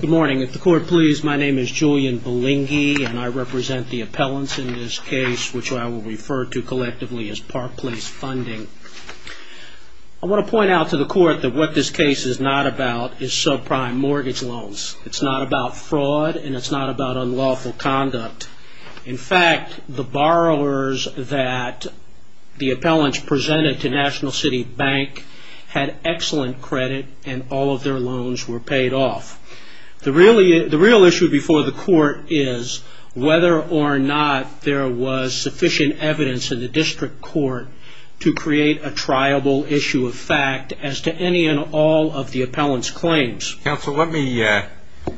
Good morning. If the court please, my name is Julian Balingi and I represent the appellants in this case, which I will refer to collectively as Park Place Funding. I want to point out to the court that what this case is not about is subprime mortgage loans. It's not about fraud and it's not about unlawful conduct. In fact, the borrowers that the appellants presented to National City Bank had excellent credit and all of their loans were paid off. The real issue before the court is whether or not there was sufficient evidence in the district court to create a triable issue of fact as to any and all of the appellants' claims. I want to point out to the court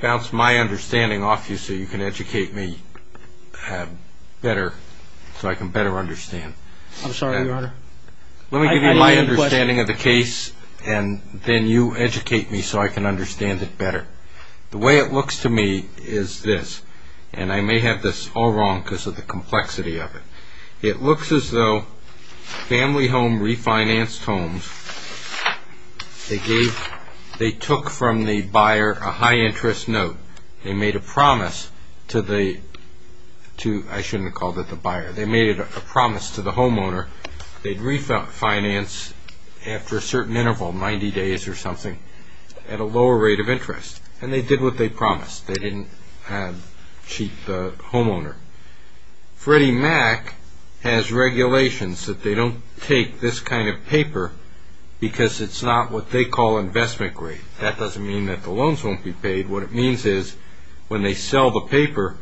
that what this case is not about is subprime mortgage loans. It's not about fraud and it's not about unlawful conduct. They took from the buyer a high interest note. They made a promise to the homeowner that they'd refinance after a certain interval, 90 days or something, at a lower rate of interest. They did what they promised. They didn't cheat the homeowner. Freddie Mac has regulations that they don't take this kind of paper because it's not what they call investment grade. That doesn't mean that the loans won't be paid. What it means is when they sell the paper,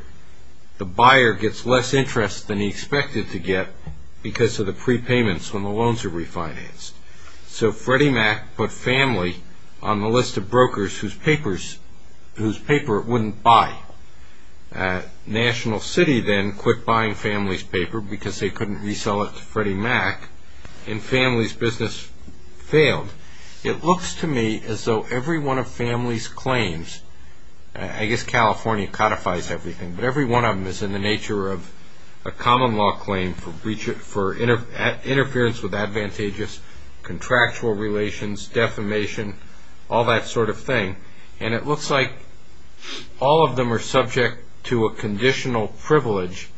the buyer gets less interest than he expected to get because of the prepayments when the loans are refinanced. So Freddie Mac put Family on the list of brokers whose paper it wouldn't buy. National City then quit buying Family's paper because they couldn't resell it to Freddie Mac and Family's business failed. It looks to me as though every one of Family's claims, I guess California codifies everything, but every one of them is in the nature of a common law claim for interference with advantageous contractual relations, defamation, all that sort of thing. And it looks like all of them are subject to a conditional privilege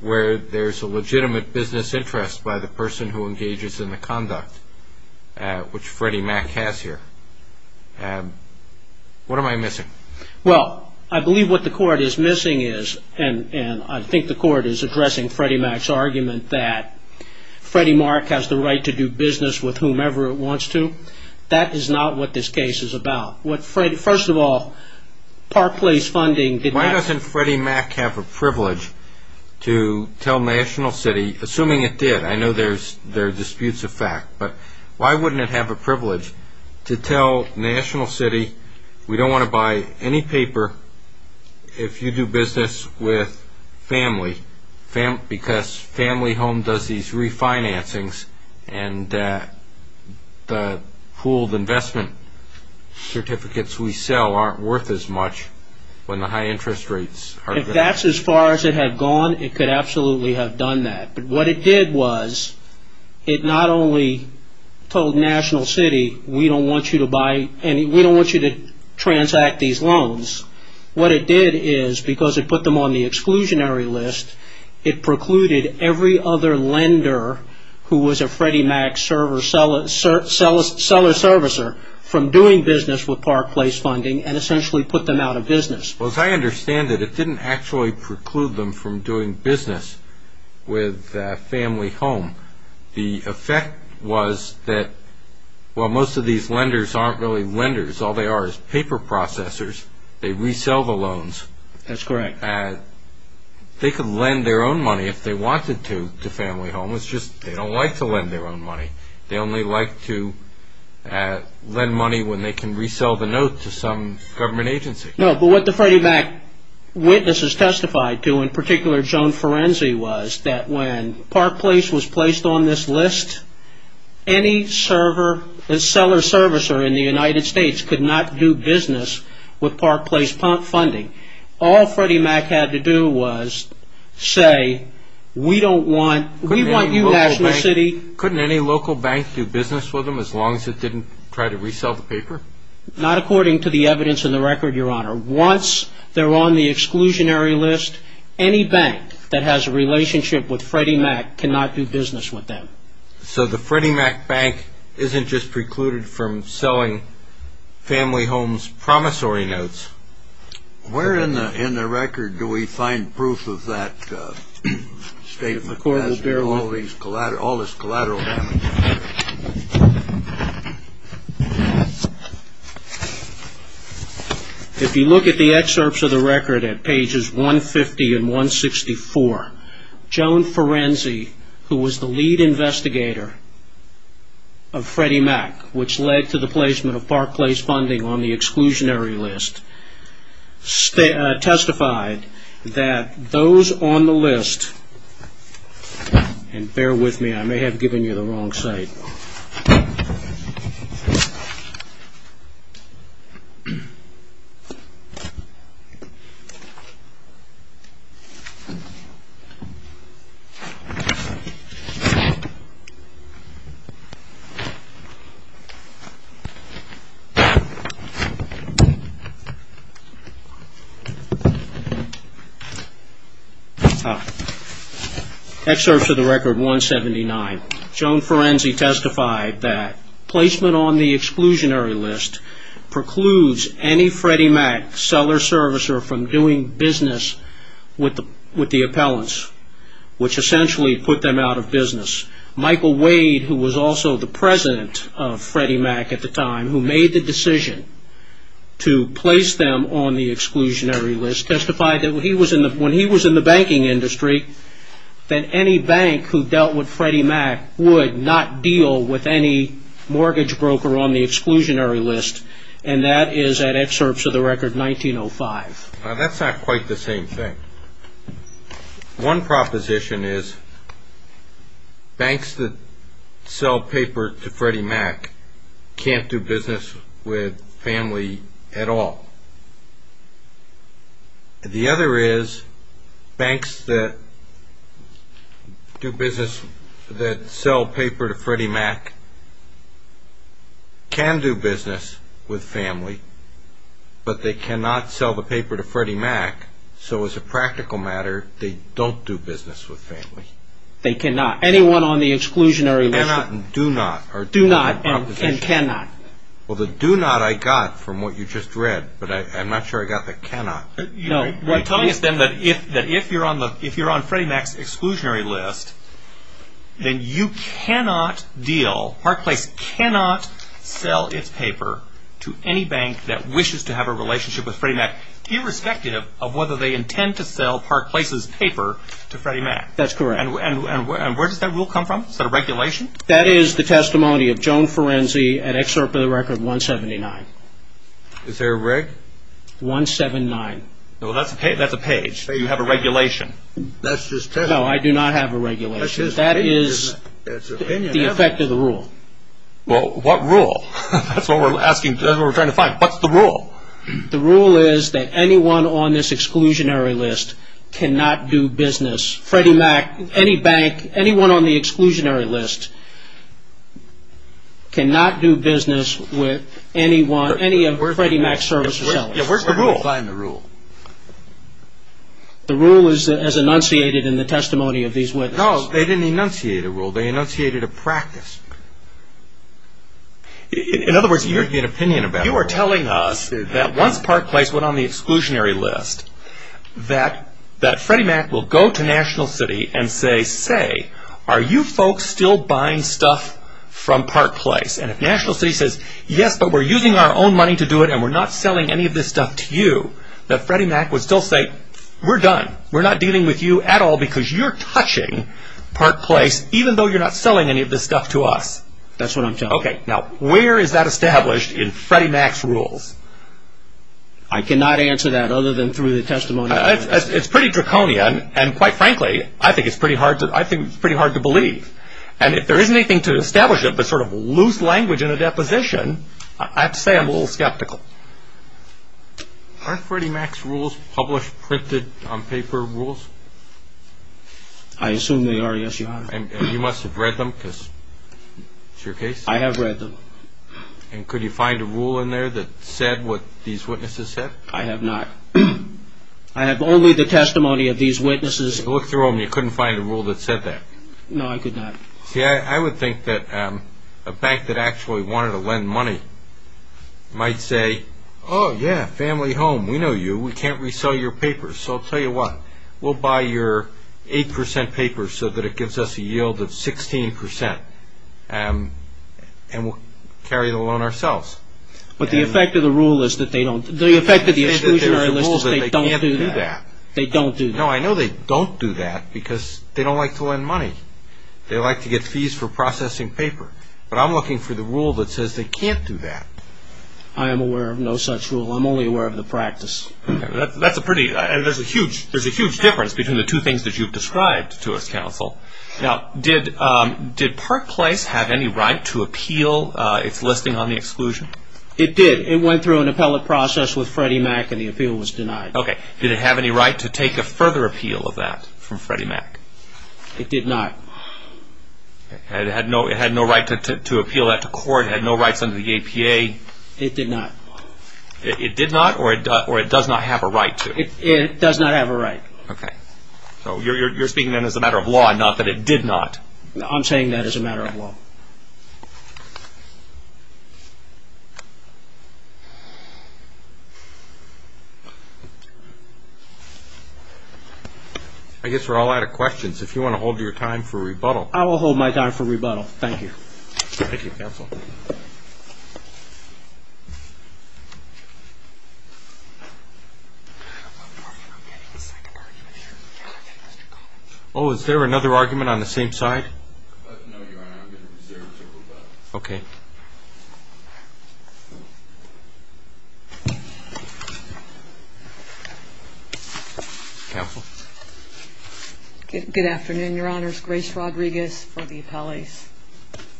where there's a legitimate business interest by the person who engages in the conduct, which Freddie Mac has here. What am I missing? Well, I believe what the court is missing is, and I think the court is addressing Freddie Mac's argument that Freddie Mac has the right to do business with whomever it wants to. That is not what this case is about. First of all, Park Place Funding... Why doesn't Freddie Mac have a privilege to tell National City, assuming it did, I know there are disputes of fact, but why wouldn't it have a privilege to tell National City, we don't want to buy any paper if you do business with Family because Family Home does these refinancings and the pooled investment certificates we sell aren't worth as much when the high interest rates... If that's as far as it had gone, it could absolutely have done that. But what it did was, it not only told National City, we don't want you to buy any, we don't want you to transact these loans, what it did is, because it put them on the exclusionary list, it precluded every other lender who was a Freddie Mac seller servicer from doing business with Park Place Funding and essentially put them out of business. Well, as I understand it, it didn't actually preclude them from doing business with Family Home. The effect was that while most of these lenders aren't really lenders, all they are is paper processors, they resell the loans. That's correct. They could lend their own money if they wanted to to Family Home, it's just they don't like to lend their own money. They only like to lend money when they can resell the note to some government agency. No, but what the Freddie Mac witnesses testified to, in particular Joan Forenzi, was that when Park Place was placed on this list, any seller servicer in the United States could not do business with Park Place Funding. All Freddie Mac had to do was say, we want you National City... Couldn't any local bank do business with them as long as it didn't try to resell the paper? Not according to the evidence in the record, Your Honor. Once they're on the exclusionary list, any bank that has a relationship with Freddie Mac cannot do business with them. So the Freddie Mac bank isn't just precluded from selling Family Home's promissory notes. Where in the record do we find proof of that statement? All this collateral damage. If you look at the excerpts of the record at pages 150 and 164, Joan Forenzi, who was the lead investigator of Freddie Mac, which led to the placement of Park Place Funding on the exclusionary list, testified that those on the list... And bear with me, I may have given you the wrong site. Excerpts of the record 179. Joan Forenzi testified that placement on the exclusionary list precludes any Freddie Mac seller servicer from doing business with the appellants, which essentially put them out of business. Michael Wade, who was also the president of Freddie Mac at the time, who made the decision to place them on the exclusionary list, testified that when he was in the banking industry, that any bank who dealt with Freddie Mac would not deal with any mortgage broker on the exclusionary list. And that is at excerpts of the record 1905. Now, that's not quite the same thing. So as a practical matter, they don't do business with family. They cannot. Anyone on the exclusionary list... Cannot and do not are two different propositions. Do not and cannot. Well, the do not I got from what you just read, but I'm not sure I got the cannot. You're telling us then that if you're on Freddie Mac's exclusionary list, then you cannot deal, Park Place cannot sell its paper to any bank that wishes to have a relationship with Freddie Mac, irrespective of whether they intend to sell Park Place's paper to Freddie Mac. That's correct. And where does that rule come from? Is that a regulation? That is the testimony of Joan Forenzi at excerpt of the record 179. Is there a reg? 179. Well, that's a page. You have a regulation. That's just testimony. No, I do not have a regulation. That is the effect of the rule. Well, what rule? That's what we're asking. That's what we're trying to find. What's the rule? The rule is that anyone on this exclusionary list cannot do business. Freddie Mac, any bank, anyone on the exclusionary list cannot do business with anyone, any of Freddie Mac's services. Yeah, where's the rule? Where do we find the rule? The rule is enunciated in the testimony of these witnesses. No, they didn't enunciate a rule. They enunciated a practice. In other words, you're telling us that once Park Place went on the exclusionary list, that Freddie Mac will go to National City and say, say, are you folks still buying stuff from Park Place? And if National City says, yes, but we're using our own money to do it and we're not selling any of this stuff to you, that Freddie Mac would still say, we're done. We're not dealing with you at all because you're touching Park Place, even though you're not selling any of this stuff to us. That's what I'm telling you. Okay, now where is that established in Freddie Mac's rules? I cannot answer that other than through the testimony. It's pretty draconian, and quite frankly, I think it's pretty hard to believe. And if there isn't anything to establish it, but sort of loose language in a deposition, I have to say I'm a little skeptical. Aren't Freddie Mac's rules published, printed on paper rules? I assume they are, yes, Your Honor. And you must have read them because it's your case? I have read them. And could you find a rule in there that said what these witnesses said? I have not. I have only the testimony of these witnesses. I looked through them. You couldn't find a rule that said that? No, I could not. See, I would think that a bank that actually wanted to lend money might say, oh, yeah, family home, we know you, we can't resell your papers. So I'll tell you what, we'll buy your 8% paper so that it gives us a yield of 16%, and we'll carry the loan ourselves. But the effect of the rule is that they don't do that. No, I know they don't do that because they don't like to lend money. They like to get fees for processing paper. But I'm looking for the rule that says they can't do that. I am aware of no such rule. I'm only aware of the practice. There's a huge difference between the two things that you've described to us, counsel. Now, did Park Place have any right to appeal its listing on the exclusion? It did. It went through an appellate process with Freddie Mac, and the appeal was denied. Okay. Did it have any right to take a further appeal of that from Freddie Mac? It did not. It had no right to appeal that to court? It had no rights under the APA? It did not. It did not, or it does not have a right to? It does not have a right. Okay. So you're speaking then as a matter of law, not that it did not. I'm saying that as a matter of law. I guess we're all out of questions. If you want to hold your time for rebuttal. I will hold my time for rebuttal. Thank you. Thank you, counsel. Oh, is there another argument on the same side? No, Your Honor. I'm going to reserve to rebut. Okay. Counsel. Good afternoon, Your Honors. Grace Rodriguez for the appellees.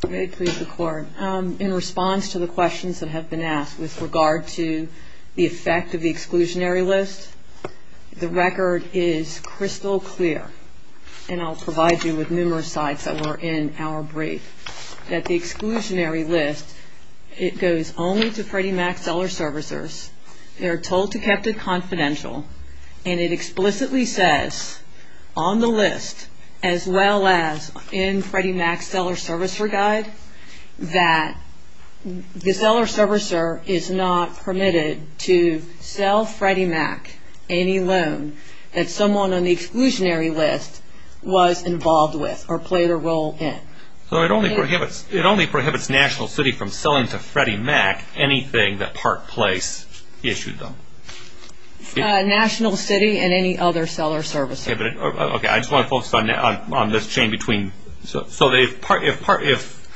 May it please the Court. In response to the questions that have been asked with regard to the effect of the exclusionary list, the record is crystal clear, and I'll provide you with numerous sites that were in our brief, that the exclusionary list, it goes only to Freddie Mac seller-servicers. They are told to kept it confidential, and it explicitly says on the list, as well as in Freddie Mac seller-servicer guide, that the seller-servicer is not permitted to sell Freddie Mac any loan that someone on the exclusionary list was involved with or played a role in. So it only prohibits National City from selling to Freddie Mac anything that Park Place issued them? National City and any other seller-servicer. Okay. I just want to focus on this chain between. So if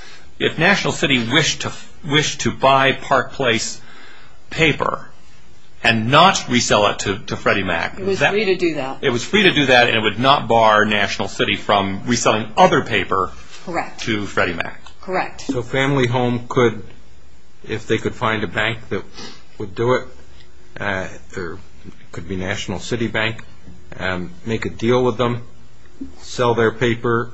National City wished to buy Park Place paper and not resell it to Freddie Mac. It was free to do that. And it would not bar National City from reselling other paper to Freddie Mac? Correct. So Family Home could, if they could find a bank that would do it, it could be National City Bank, make a deal with them, sell their paper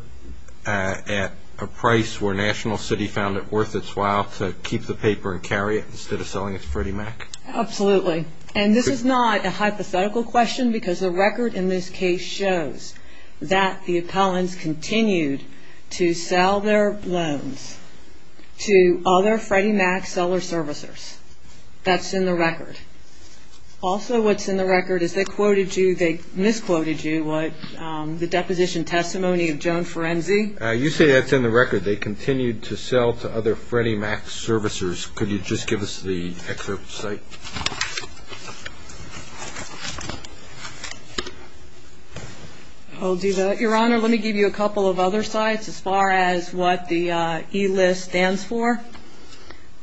at a price where National City found it worth its while to keep the paper and carry it instead of selling it to Freddie Mac? Absolutely. And this is not a hypothetical question because the record in this case shows that the appellants continued to sell their loans to other Freddie Mac seller-servicers. That's in the record. Also what's in the record is they quoted you, they misquoted you, the deposition testimony of Joan Forenzi. You say that's in the record. They continued to sell to other Freddie Mac servicers. Could you just give us the excerpt to say? I'll do that, Your Honor. Let me give you a couple of other sites as far as what the e-list stands for.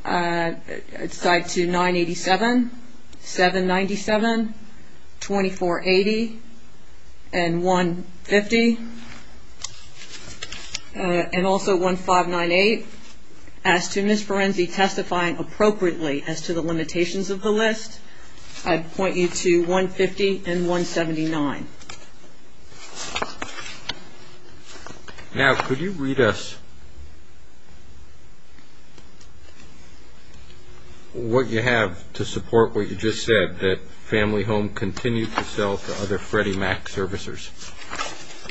It's tied to 987, 797, 2480, and 150, and also 1598. As to Ms. Forenzi testifying appropriately as to the limitations of the list, I'd point you to 150 and 179. Now, could you read us what you have to support what you just said, that Family Home continued to sell to other Freddie Mac servicers?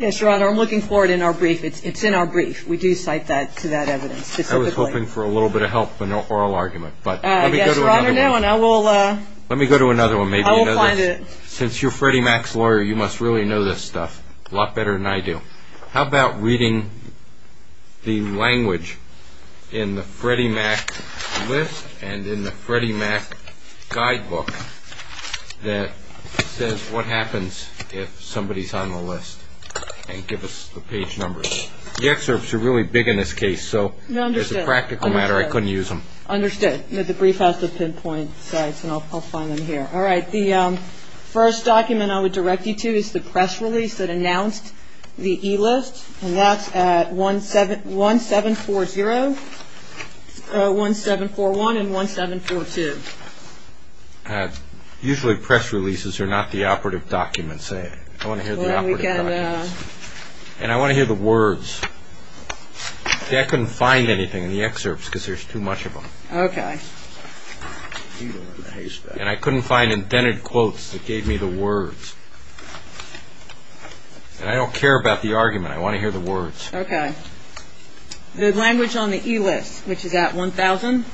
Yes, Your Honor. I'm looking for it in our brief. It's in our brief. We do cite that to that evidence specifically. I was hoping for a little bit of help in the oral argument, but let me go to another one. Yes, Your Honor. No, and I will find it. Since you're Freddie Mac's lawyer, you must really know this stuff a lot better than I do. How about reading the language in the Freddie Mac list and in the Freddie Mac guidebook that says what happens if somebody's on the list, and give us the page numbers. The excerpts are really big in this case, so as a practical matter, I couldn't use them. Understood. The brief has to pinpoint sites, and I'll find them here. All right. The first document I would direct you to is the press release that announced the e-list, and that's at 1740, 1741, and 1742. Usually press releases are not the operative documents. I want to hear the operative documents. And I want to hear the words. See, I couldn't find anything in the excerpts because there's too much of them. Okay. And I couldn't find indented quotes that gave me the words. And I don't care about the argument. I want to hear the words. Okay. The language on the e-list, which is at 1000.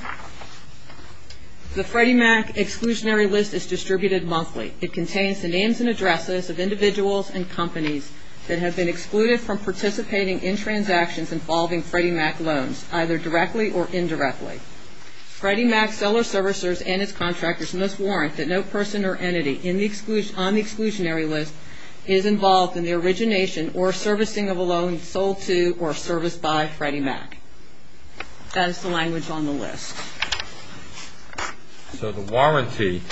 The Freddie Mac exclusionary list is distributed monthly. It contains the names and addresses of individuals and companies that have been excluded from participating in transactions involving Freddie Mac loans, either directly or indirectly. Freddie Mac seller-servicers and its contractors must warrant that no person or entity on the exclusionary list is involved in the origination or servicing of a loan sold to or serviced by Freddie Mac. That is the language on the list. So the warranty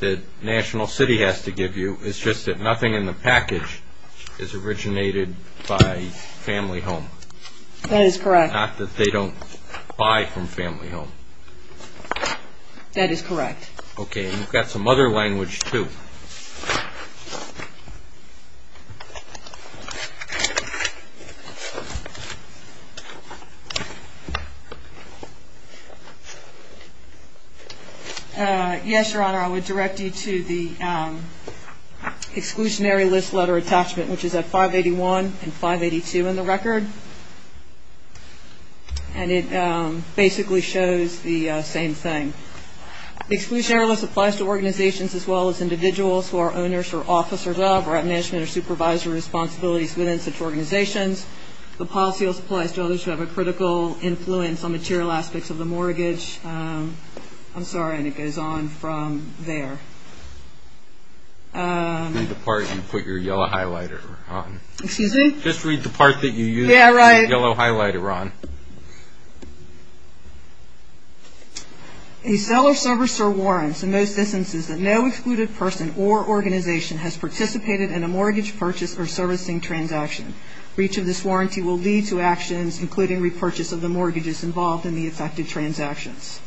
that National City has to give you is just that nothing in the package is originated by family home. That is correct. Not that they don't buy from family home. That is correct. Okay. We've got some other language, too. Yes, Your Honor, I would direct you to the exclusionary list letter attachment, which is at 581 and 582 in the record. And it basically shows the same thing. The exclusionary list applies to organizations as well as individuals who are owners or officers of or have management or supervisory responsibilities within such organizations. The policy list applies to others who have a critical influence on material aspects of the mortgage. I'm sorry, and it goes on from there. Read the part you put your yellow highlighter on. Excuse me? Just read the part that you use the yellow highlighter on. A seller, servicer warrants in those instances that no excluded person or organization has participated in a mortgage purchase or servicing transaction. Breach of this warranty will lead to actions, including repurchase of the mortgages involved in the affected transactions.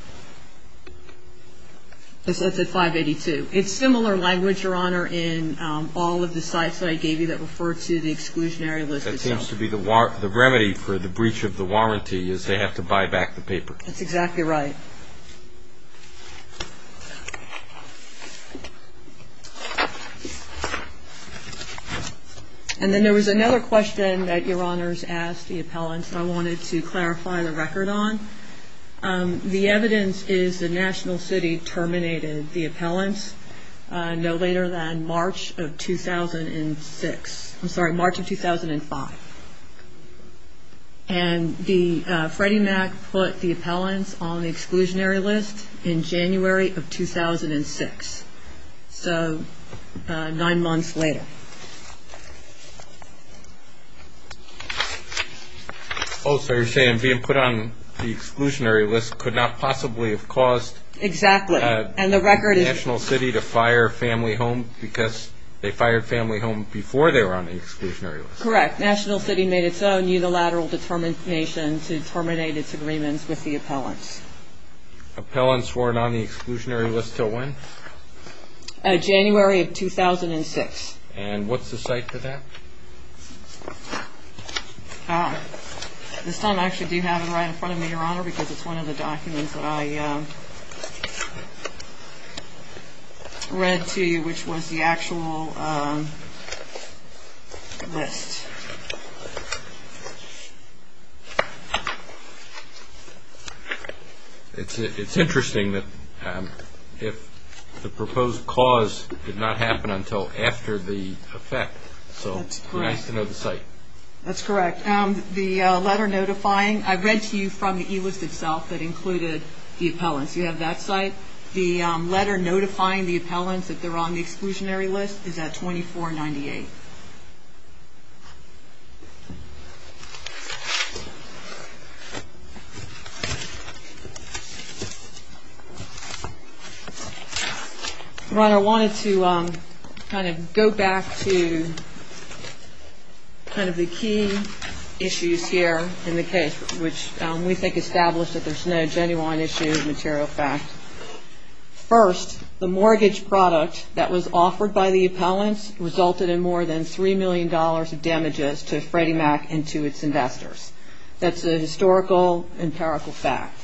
That's at 582. It's similar language, Your Honor, in all of the sites that I gave you that refer to the exclusionary list itself. What happens to be the remedy for the breach of the warranty is they have to buy back the paper. That's exactly right. And then there was another question that Your Honors asked the appellants that I wanted to clarify the record on. The evidence is the national city terminated the appellants no later than March of 2006. I'm sorry, March of 2005. And the Freddie Mac put the appellants on the exclusionary list in January of 2006. So nine months later. Oh, so you're saying being put on the exclusionary list could not possibly have caused the national city to fire family homes because they fired family homes before they were on the exclusionary list. Correct. National city made its own unilateral determination to terminate its agreements with the appellants. Appellants weren't on the exclusionary list until when? January of 2006. And what's the site for that? This time I actually do have it right in front of me, Your Honor, because it's one of the documents that I read to you which was the actual list. It's interesting that if the proposed cause did not happen until after the effect. So it's nice to know the site. That's correct. The letter notifying, I read to you from the e-list itself that included the appellants. You have that site. The letter notifying the appellants that they're on the exclusionary list is at 2498. Your Honor, I wanted to kind of go back to kind of the key issues here in the case, which we think established that there's no genuine issue of material fact. First, the mortgage product that was offered by the appellants resulted in more than $3 million of damages to Freddie Mac and to its investors. That's a historical, empirical fact.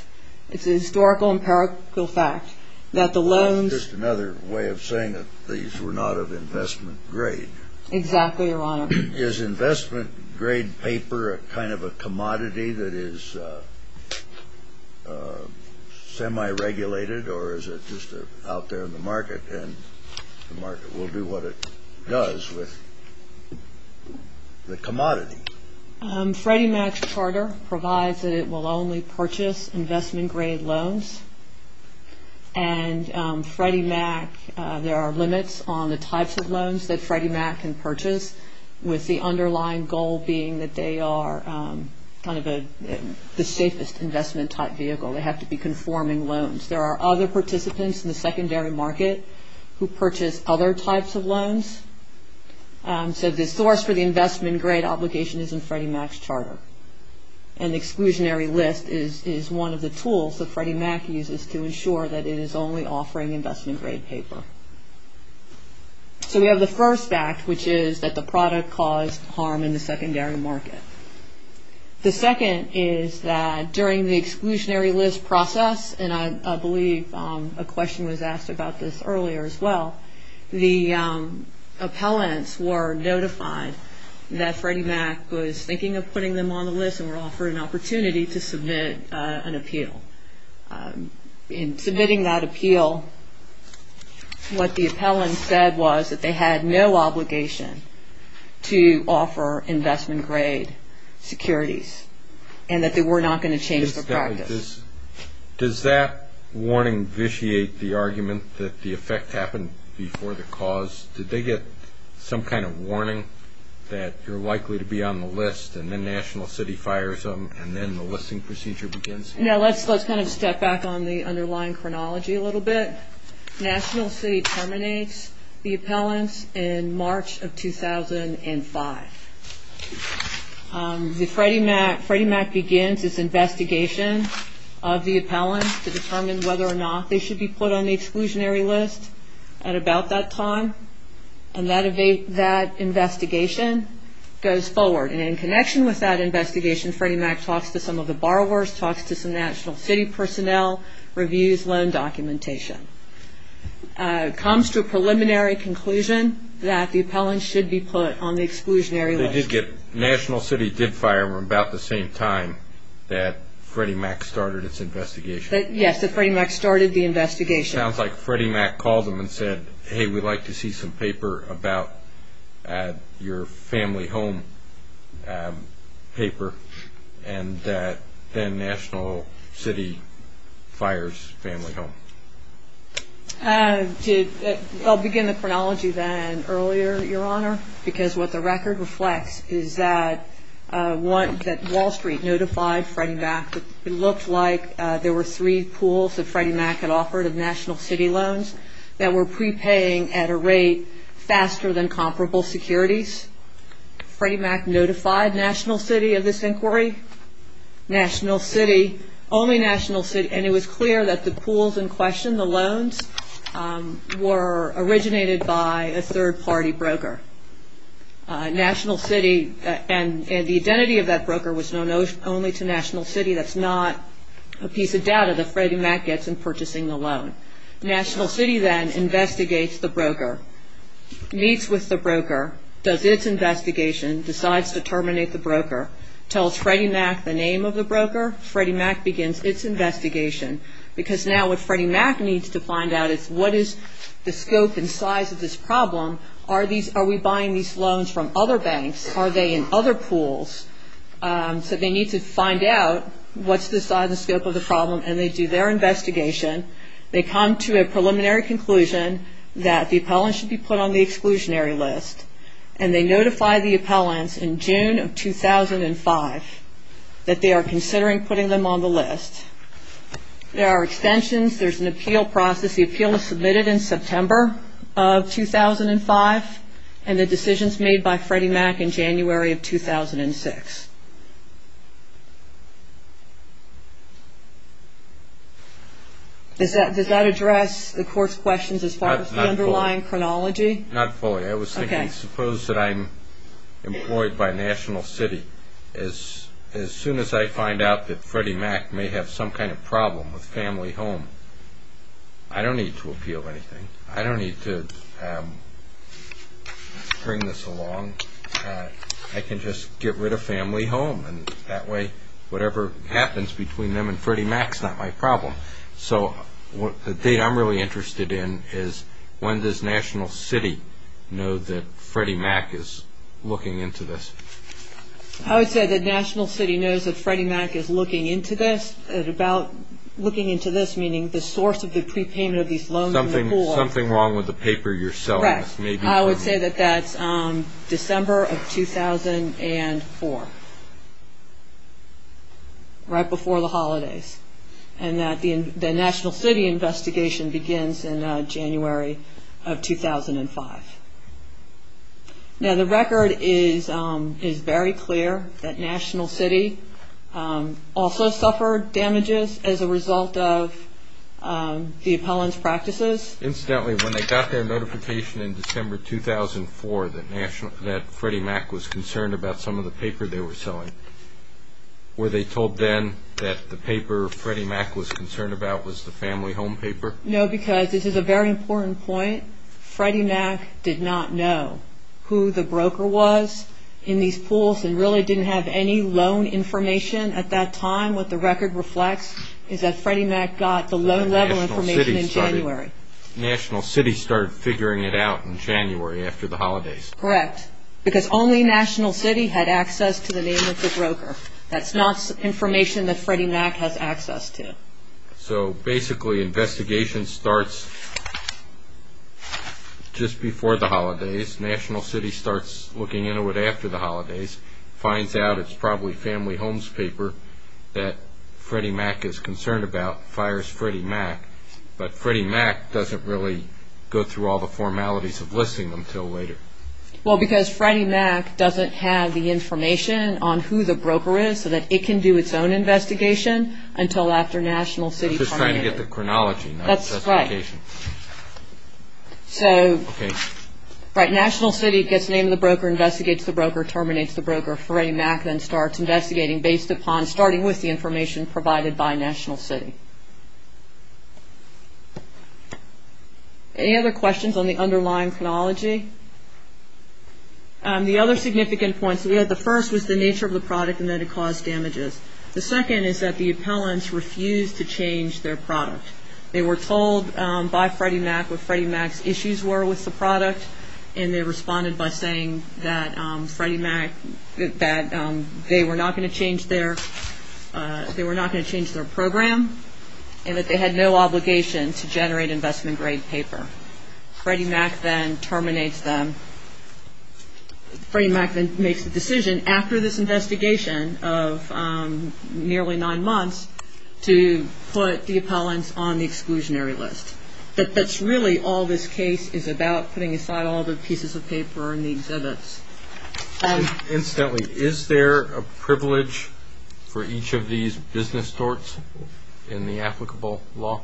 It's a historical, empirical fact that the loans. That's just another way of saying that these were not of investment grade. Exactly, Your Honor. Is investment grade paper a kind of a commodity that is semi-regulated or is it just out there in the market and the market will do what it does with the commodity? Freddie Mac's charter provides that it will only purchase investment grade loans. And Freddie Mac, there are limits on the types of loans that Freddie Mac can purchase with the underlying goal being that they are kind of the safest investment type vehicle. They have to be conforming loans. There are other participants in the secondary market who purchase other types of loans. So the source for the investment grade obligation is in Freddie Mac's charter. And exclusionary list is one of the tools that Freddie Mac uses to ensure that it is only offering investment grade paper. So we have the first fact, which is that the product caused harm in the secondary market. The second is that during the exclusionary list process, and I believe a question was asked about this earlier as well, the appellants were notified that Freddie Mac was thinking of putting them on the list and were offered an opportunity to submit an appeal. In submitting that appeal, what the appellant said was that they had no obligation to offer investment grade securities and that they were not going to change their practice. Does that warning vitiate the argument that the effect happened before the cause? Did they get some kind of warning that you're likely to be on the list and then National City fires them and then the listing procedure begins? No, let's kind of step back on the underlying chronology a little bit. National City terminates the appellants in March of 2005. Freddie Mac begins its investigation of the appellants to determine whether or not they should be put on the exclusionary list at about that time, and that investigation goes forward. And in connection with that investigation, Freddie Mac talks to some of the borrowers, talks to some National City personnel, reviews loan documentation, comes to a preliminary conclusion that the appellants should be put on the exclusionary list National City did fire them about the same time that Freddie Mac started its investigation. Yes, that Freddie Mac started the investigation. It sounds like Freddie Mac called them and said, hey, we'd like to see some paper about your family home paper, and then National City fires family home. Because what the record reflects is that Wall Street notified Freddie Mac that it looked like there were three pools that Freddie Mac had offered of National City loans that were prepaying at a rate faster than comparable securities. Freddie Mac notified National City of this inquiry. National City, only National City, and it was clear that the pools in question, the loans, were originated by a third-party broker. National City and the identity of that broker was known only to National City. That's not a piece of data that Freddie Mac gets in purchasing the loan. National City then investigates the broker, meets with the broker, does its investigation, decides to terminate the broker, tells Freddie Mac the name of the broker. Freddie Mac begins its investigation, because now what Freddie Mac needs to find out is what is the scope and size of this problem. Are we buying these loans from other banks? Are they in other pools? So they need to find out what's the size and scope of the problem, and they do their investigation. They come to a preliminary conclusion that the appellant should be put on the exclusionary list, and they notify the appellants in June of 2005 that they are considering putting them on the list. There are extensions. There's an appeal process. The appeal is submitted in September of 2005, and the decision is made by Freddie Mac in January of 2006. Does that address the court's questions as far as the underlying chronology? Not fully. I was thinking, suppose that I'm employed by National City. As soon as I find out that Freddie Mac may have some kind of problem with family home, I don't need to appeal anything. I don't need to bring this along. I can just get rid of family home, and that way whatever happens between them and Freddie Mac is not my problem. The thing I'm really interested in is when does National City know that Freddie Mac is looking into this? I would say that National City knows that Freddie Mac is looking into this, about looking into this meaning the source of the prepayment of these loans in the pool. Correct. I would say that that's December of 2004, right before the holidays, and that the National City investigation begins in January of 2005. Now, the record is very clear that National City also suffered damages as a result of the appellant's practices. Incidentally, when they got their notification in December 2004 that Freddie Mac was concerned about some of the paper they were selling, were they told then that the paper Freddie Mac was concerned about was the family home paper? No, because this is a very important point. Freddie Mac did not know who the broker was in these pools and really didn't have any loan information at that time. What the record reflects is that Freddie Mac got the loan level information in January. National City started figuring it out in January after the holidays. Correct, because only National City had access to the name of the broker. That's not information that Freddie Mac has access to. So, basically, investigation starts just before the holidays. National City starts looking into it after the holidays, finds out it's probably family home's paper that Freddie Mac is concerned about, fires Freddie Mac, but Freddie Mac doesn't really go through all the formalities of listing them until later. Well, because Freddie Mac doesn't have the information on who the broker is so that it can do its own investigation until after National City terminates. I'm just trying to get the chronology, not justification. That's right. So, right, National City gets the name of the broker, investigates the broker, terminates the broker. Freddie Mac then starts investigating based upon, starting with the information provided by National City. Any other questions on the underlying chronology? The other significant points we had, the first was the nature of the product and that it caused damages. The second is that the appellants refused to change their product. They were told by Freddie Mac what Freddie Mac's issues were with the product, and they responded by saying that Freddie Mac, that they were not going to change their program and that they had no obligation to generate investment-grade paper. Freddie Mac then terminates them. Freddie Mac then makes the decision after this investigation of nearly nine months to put the appellants on the exclusionary list. But that's really all this case is about, putting aside all the pieces of paper and the exhibits. Incidentally, is there a privilege for each of these business sorts in the applicable law?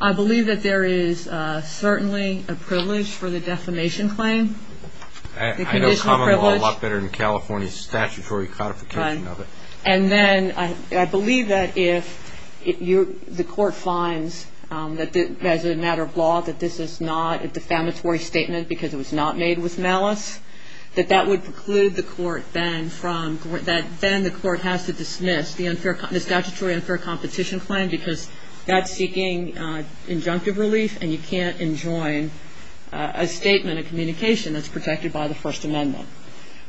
I believe that there is certainly a privilege for the defamation claim. I know common law a lot better than California's statutory codification of it. And then I believe that if the court finds, as a matter of law, that this is not a defamatory statement because it was not made with malice, that that would preclude the court then from, that then the court has to dismiss the statutory unfair competition claim because that's seeking injunctive relief and you can't enjoin a statement of communication that's protected by the First Amendment.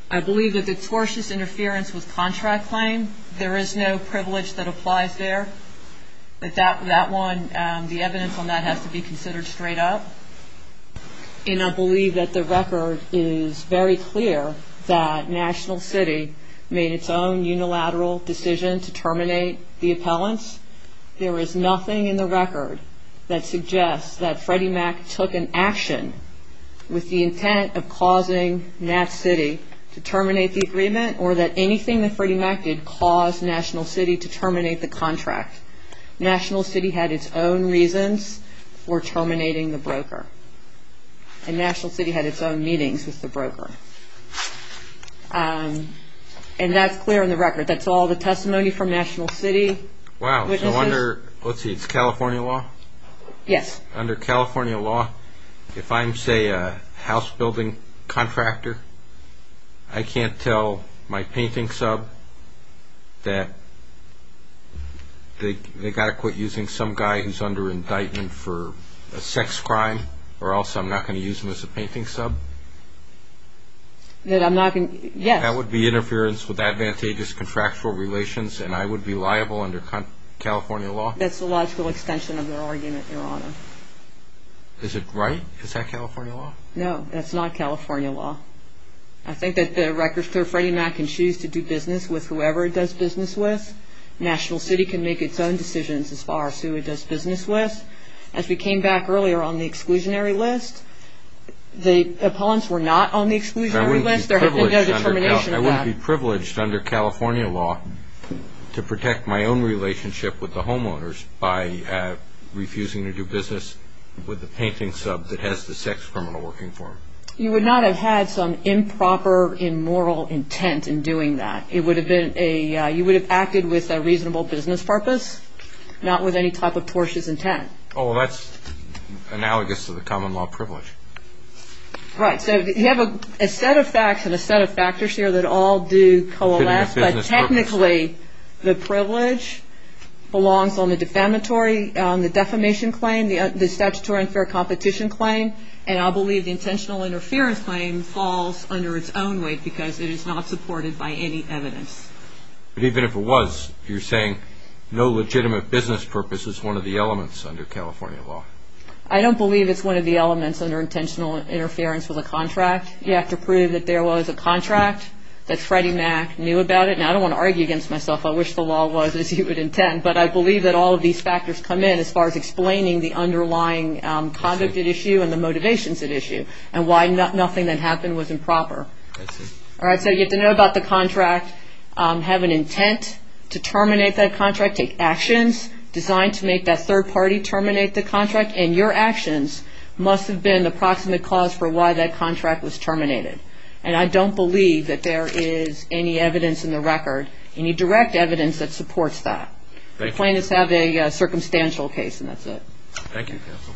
I believe that the tortious interference with contract claim, there is no privilege that applies there. But that one, the evidence on that has to be considered straight up. And I believe that the record is very clear that National City made its own unilateral decision to terminate the appellants. There is nothing in the record that suggests that Freddie Mac took an action with the intent of causing Nat City to terminate the agreement or that anything that Freddie Mac did caused National City to terminate the contract. National City had its own reasons for terminating the broker. And National City had its own meetings with the broker. And that's clear in the record. That's all the testimony from National City. Wow. So under, let's see, it's California law? Yes. Under California law, if I'm say a house building contractor, I can't tell my painting sub that they got to quit using some guy who's under indictment for a sex crime or else I'm not going to use him as a painting sub? That I'm not going to, yes. That would be interference with advantageous contractual relations and I would be liable under California law? That's the logical extension of their argument, Your Honor. Is it right? Is that California law? No, that's not California law. I think that the record's clear. Freddie Mac can choose to do business with whoever it does business with. National City can make its own decisions as far as who it does business with. As we came back earlier on the exclusionary list, the opponents were not on the exclusionary list. There had been no determination of that. I wouldn't be privileged under California law to protect my own relationship with the homeowners by refusing to do business with the painting sub that has the sex criminal working for them. You would not have had some improper, immoral intent in doing that. You would have acted with a reasonable business purpose, not with any type of tortious intent. Oh, that's analogous to the common law privilege. Right, so you have a set of facts and a set of factors here that all do coalesce, but technically the privilege belongs on the defamatory, the defamation claim, the statutory unfair competition claim, and I believe the intentional interference claim falls under its own weight because it is not supported by any evidence. But even if it was, you're saying no legitimate business purpose is one of the elements under California law. I don't believe it's one of the elements under intentional interference with a contract. You have to prove that there was a contract, that Freddie Mac knew about it. Now, I don't want to argue against myself. I wish the law was as you would intend, but I believe that all of these factors come in as far as explaining the underlying conduct at issue and the motivations at issue and why nothing that happened was improper. All right, so you have to know about the contract, have an intent to terminate that contract, take actions designed to make that third party terminate the contract, and your actions must have been the proximate cause for why that contract was terminated. And I don't believe that there is any evidence in the record, any direct evidence that supports that. The plaintiffs have a circumstantial case, and that's it. Thank you, counsel.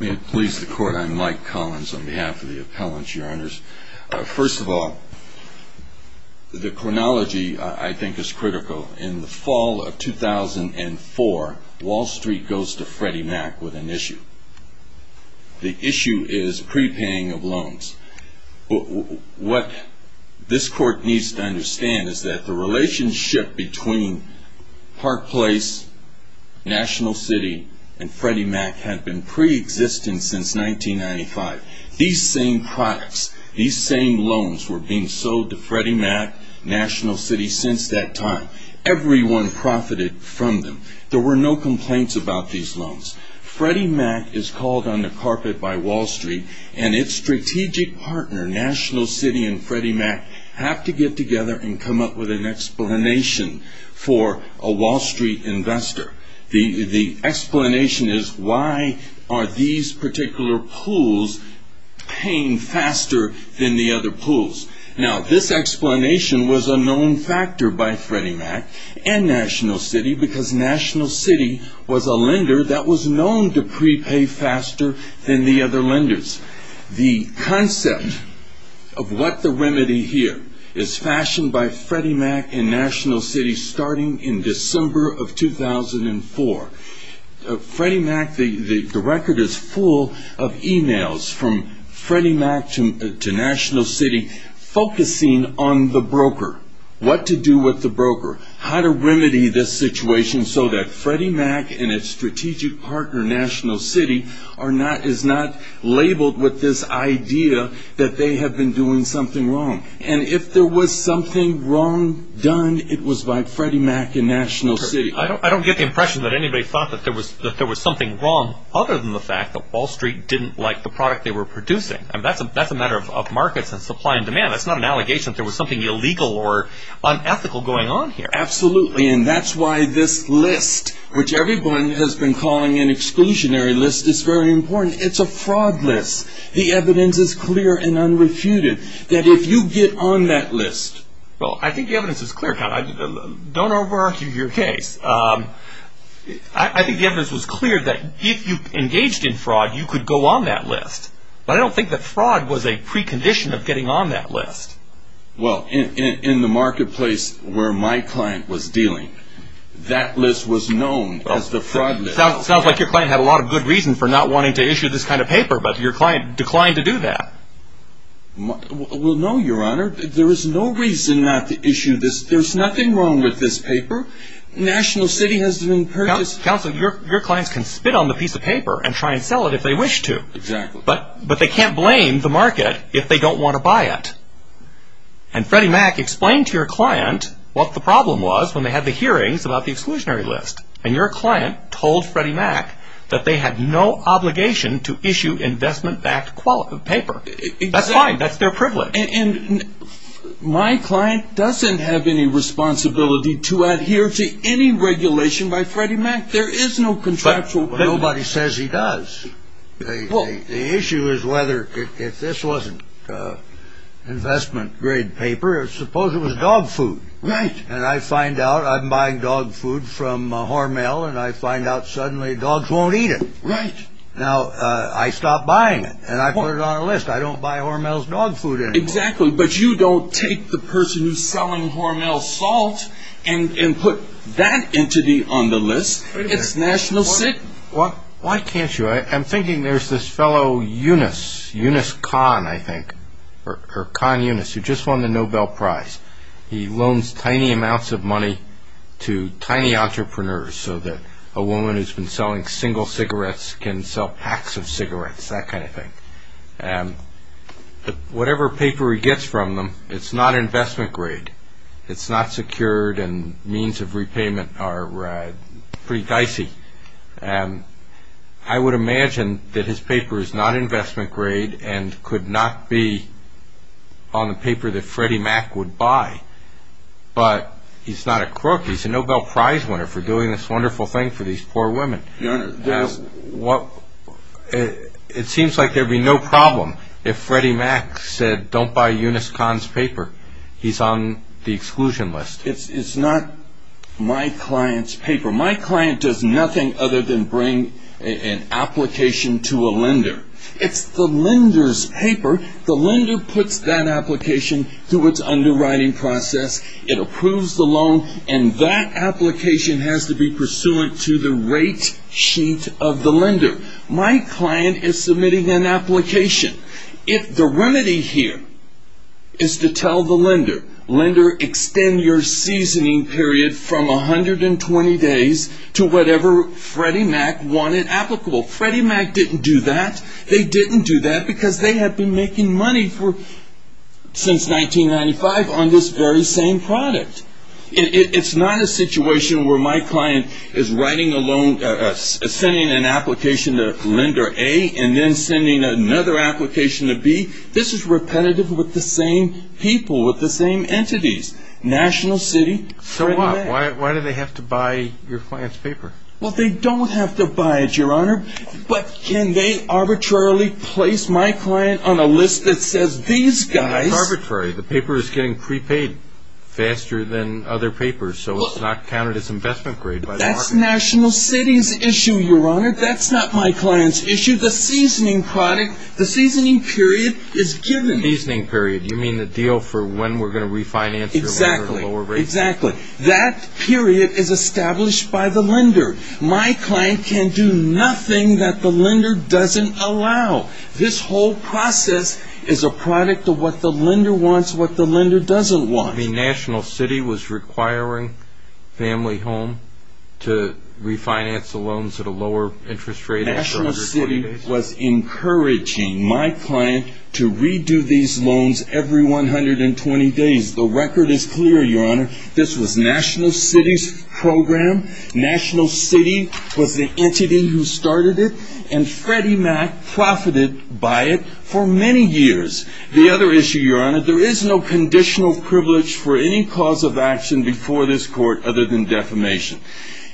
May it please the Court, I'm Mike Collins on behalf of the appellants, Your Honors. First of all, the chronology I think is critical. In the fall of 2004, Wall Street goes to Freddie Mac with an issue. The issue is prepaying of loans. What this Court needs to understand is that the relationship between Park Place, National City, and Freddie Mac had been preexistent since 1995. These same products, these same loans were being sold to Freddie Mac, National City, since that time. Everyone profited from them. There were no complaints about these loans. Freddie Mac is called on the carpet by Wall Street, and its strategic partner, National City and Freddie Mac, have to get together and come up with an explanation for a Wall Street investor. The explanation is, why are these particular pools paying faster than the other pools? Now, this explanation was a known factor by Freddie Mac and National City, because National City was a lender that was known to prepay faster than the other lenders. The concept of what the remedy here is fashioned by Freddie Mac and National City starting in December of 2004. Freddie Mac, the record is full of e-mails from Freddie Mac to National City focusing on the broker, what to do with the broker, how to remedy this situation so that Freddie Mac and its strategic partner, National City, is not labeled with this idea that they have been doing something wrong. And if there was something wrong done, it was by Freddie Mac and National City. I don't get the impression that anybody thought that there was something wrong, other than the fact that Wall Street didn't like the product they were producing. That's a matter of markets and supply and demand. That's not an allegation that there was something illegal or unethical going on here. Absolutely, and that's why this list, which everyone has been calling an exclusionary list, is very important. It's a fraud list. The evidence is clear and unrefuted that if you get on that list... Well, I think the evidence is clear. Don't over-argue your case. I think the evidence was clear that if you engaged in fraud, you could go on that list. But I don't think that fraud was a precondition of getting on that list. Well, in the marketplace where my client was dealing, that list was known as the fraud list. Sounds like your client had a lot of good reason for not wanting to issue this kind of paper, but your client declined to do that. Well, no, Your Honor. There is no reason not to issue this. There's nothing wrong with this paper. National City has been... Counsel, your clients can spit on the piece of paper and try and sell it if they wish to. Exactly. But they can't blame the market if they don't want to buy it. And Freddie Mac explained to your client what the problem was when they had the hearings about the exclusionary list. And your client told Freddie Mac that they had no obligation to issue investment-backed paper. That's fine. That's their privilege. And my client doesn't have any responsibility to adhere to any regulation by Freddie Mac. There is no contractual... Well, nobody says he does. The issue is whether... If this wasn't investment-grade paper, suppose it was dog food. Right. And I find out I'm buying dog food from Hormel, and I find out suddenly dogs won't eat it. Right. Now, I stop buying it, and I put it on a list. I don't buy Hormel's dog food anymore. Exactly. But you don't take the person who's selling Hormel's salt and put that entity on the list. Why can't you? I'm thinking there's this fellow, Eunice, Eunice Kahn, I think, or Kahn Eunice, who just won the Nobel Prize. He loans tiny amounts of money to tiny entrepreneurs so that a woman who's been selling single cigarettes can sell packs of cigarettes, that kind of thing. Whatever paper he gets from them, it's not investment-grade. It's not secured, and means of repayment are pretty dicey. I would imagine that his paper is not investment-grade and could not be on the paper that Freddie Mac would buy. But he's not a crook. He's a Nobel Prize winner for doing this wonderful thing for these poor women. Your Honor, this... It seems like there'd be no problem if Freddie Mac said, Don't buy Eunice Kahn's paper. He's on the exclusion list. It's not my client's paper. My client does nothing other than bring an application to a lender. It's the lender's paper. The lender puts that application through its underwriting process, it approves the loan, and that application has to be pursuant to the rate sheet of the lender. My client is submitting an application. If the remedy here is to tell the lender, Lender, extend your seasoning period from 120 days to whatever Freddie Mac wanted applicable. Freddie Mac didn't do that. They didn't do that because they had been making money since 1995 on this very same product. It's not a situation where my client is writing a loan, sending an application to Lender A, and then sending another application to B. This is repetitive with the same people, with the same entities. National City, Freddie Mac. So why do they have to buy your client's paper? Well, they don't have to buy it, Your Honor, but can they arbitrarily place my client on a list that says, These guys... It's arbitrary. The paper is getting prepaid faster than other papers, so it's not counted as investment grade by the market. That's National City's issue, Your Honor. That's not my client's issue. The seasoning product, the seasoning period is given. Seasoning period. You mean the deal for when we're going to refinance your loan at a lower rate? Exactly. That period is established by the lender. My client can do nothing that the lender doesn't allow. This whole process is a product of what the lender wants, what the lender doesn't want. National City was requiring Family Home to refinance the loans at a lower interest rate. National City was encouraging my client to redo these loans every 120 days. The record is clear, Your Honor. This was National City's program. National City was the entity who started it, and Freddie Mac profited by it for many years. The other issue, Your Honor, there is no conditional privilege for any cause of action before this Court other than defamation.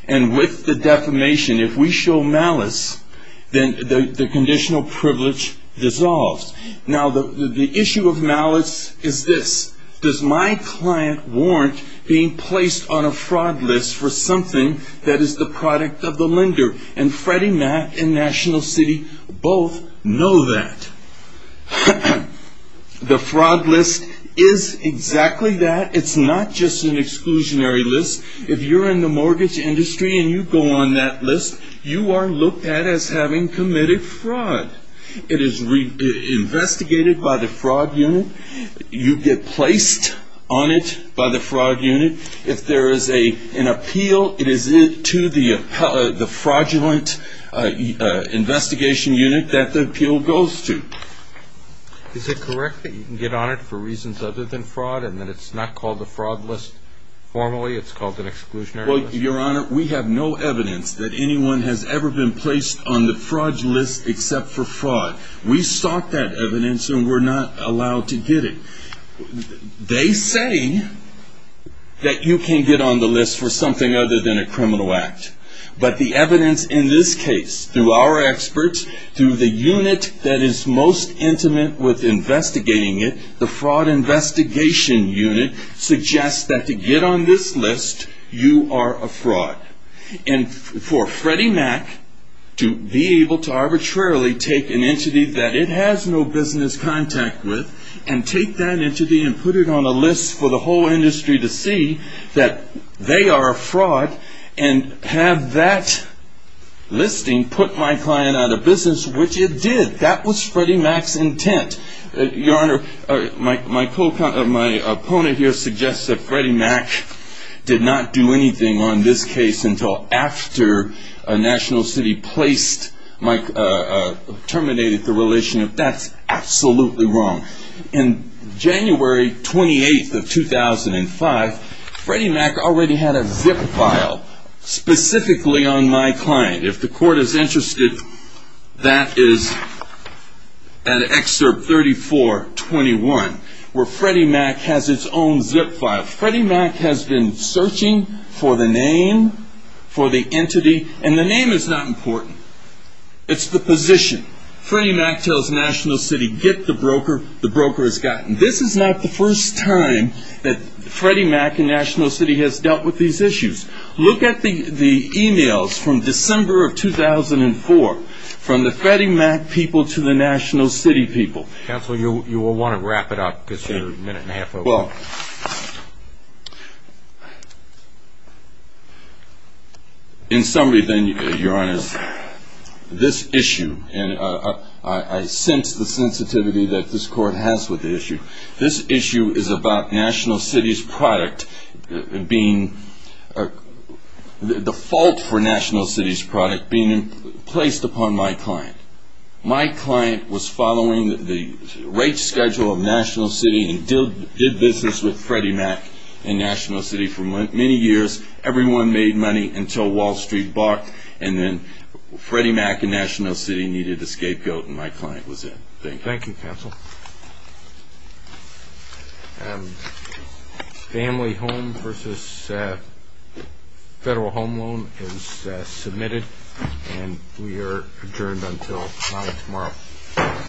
And with the defamation, if we show malice, then the conditional privilege dissolves. Now, the issue of malice is this. Does my client warrant being placed on a fraud list for something that is the product of the lender? And Freddie Mac and National City both know that. The fraud list is exactly that. It's not just an exclusionary list. If you're in the mortgage industry and you go on that list, you are looked at as having committed fraud. It is investigated by the fraud unit. You get placed on it by the fraud unit. If there is an appeal, it is to the fraudulent investigation unit that the appeal goes to. Is it correct that you can get on it for reasons other than fraud and that it's not called a fraud list formally? It's called an exclusionary list? Well, Your Honor, we have no evidence that anyone has ever been placed on the fraud list except for fraud. We sought that evidence and were not allowed to get it. They say that you can get on the list for something other than a criminal act. But the evidence in this case, through our experts, through the unit that is most intimate with investigating it, the fraud investigation unit suggests that to get on this list, you are a fraud. And for Freddie Mac to be able to arbitrarily take an entity that it has no business contact with and take that entity and put it on a list for the whole industry to see that they are a fraud and have that listing put my client out of business, which it did. That was Freddie Mac's intent. Your Honor, my opponent here suggests that Freddie Mac did not do anything on this case until after National City terminated the relationship. That's absolutely wrong. On January 28, 2005, Freddie Mac already had a zip file specifically on my client. If the Court is interested, that is at Excerpt 3421, where Freddie Mac has its own zip file. Freddie Mac has been searching for the name, for the entity, and the name is not important. It's the position. Freddie Mac tells National City, get the broker. The broker has gotten it. This is not the first time that Freddie Mac and National City has dealt with these issues. Look at the e-mails from December of 2004, from the Freddie Mac people to the National City people. Counsel, you will want to wrap it up because you're a minute and a half over. Well, in summary then, Your Honor, this issue, and I sense the sensitivity that this Court has with the issue, this issue is about National City's product being, the fault for National City's product being placed upon my client. My client was following the rate schedule of National City and did business with Freddie Mac and National City for many years. Everyone made money until Wall Street barked and then Freddie Mac and National City needed a scapegoat and my client was in. Thank you. Thank you, Counsel. Family home versus federal home loan is submitted and we are adjourned until 9 tomorrow.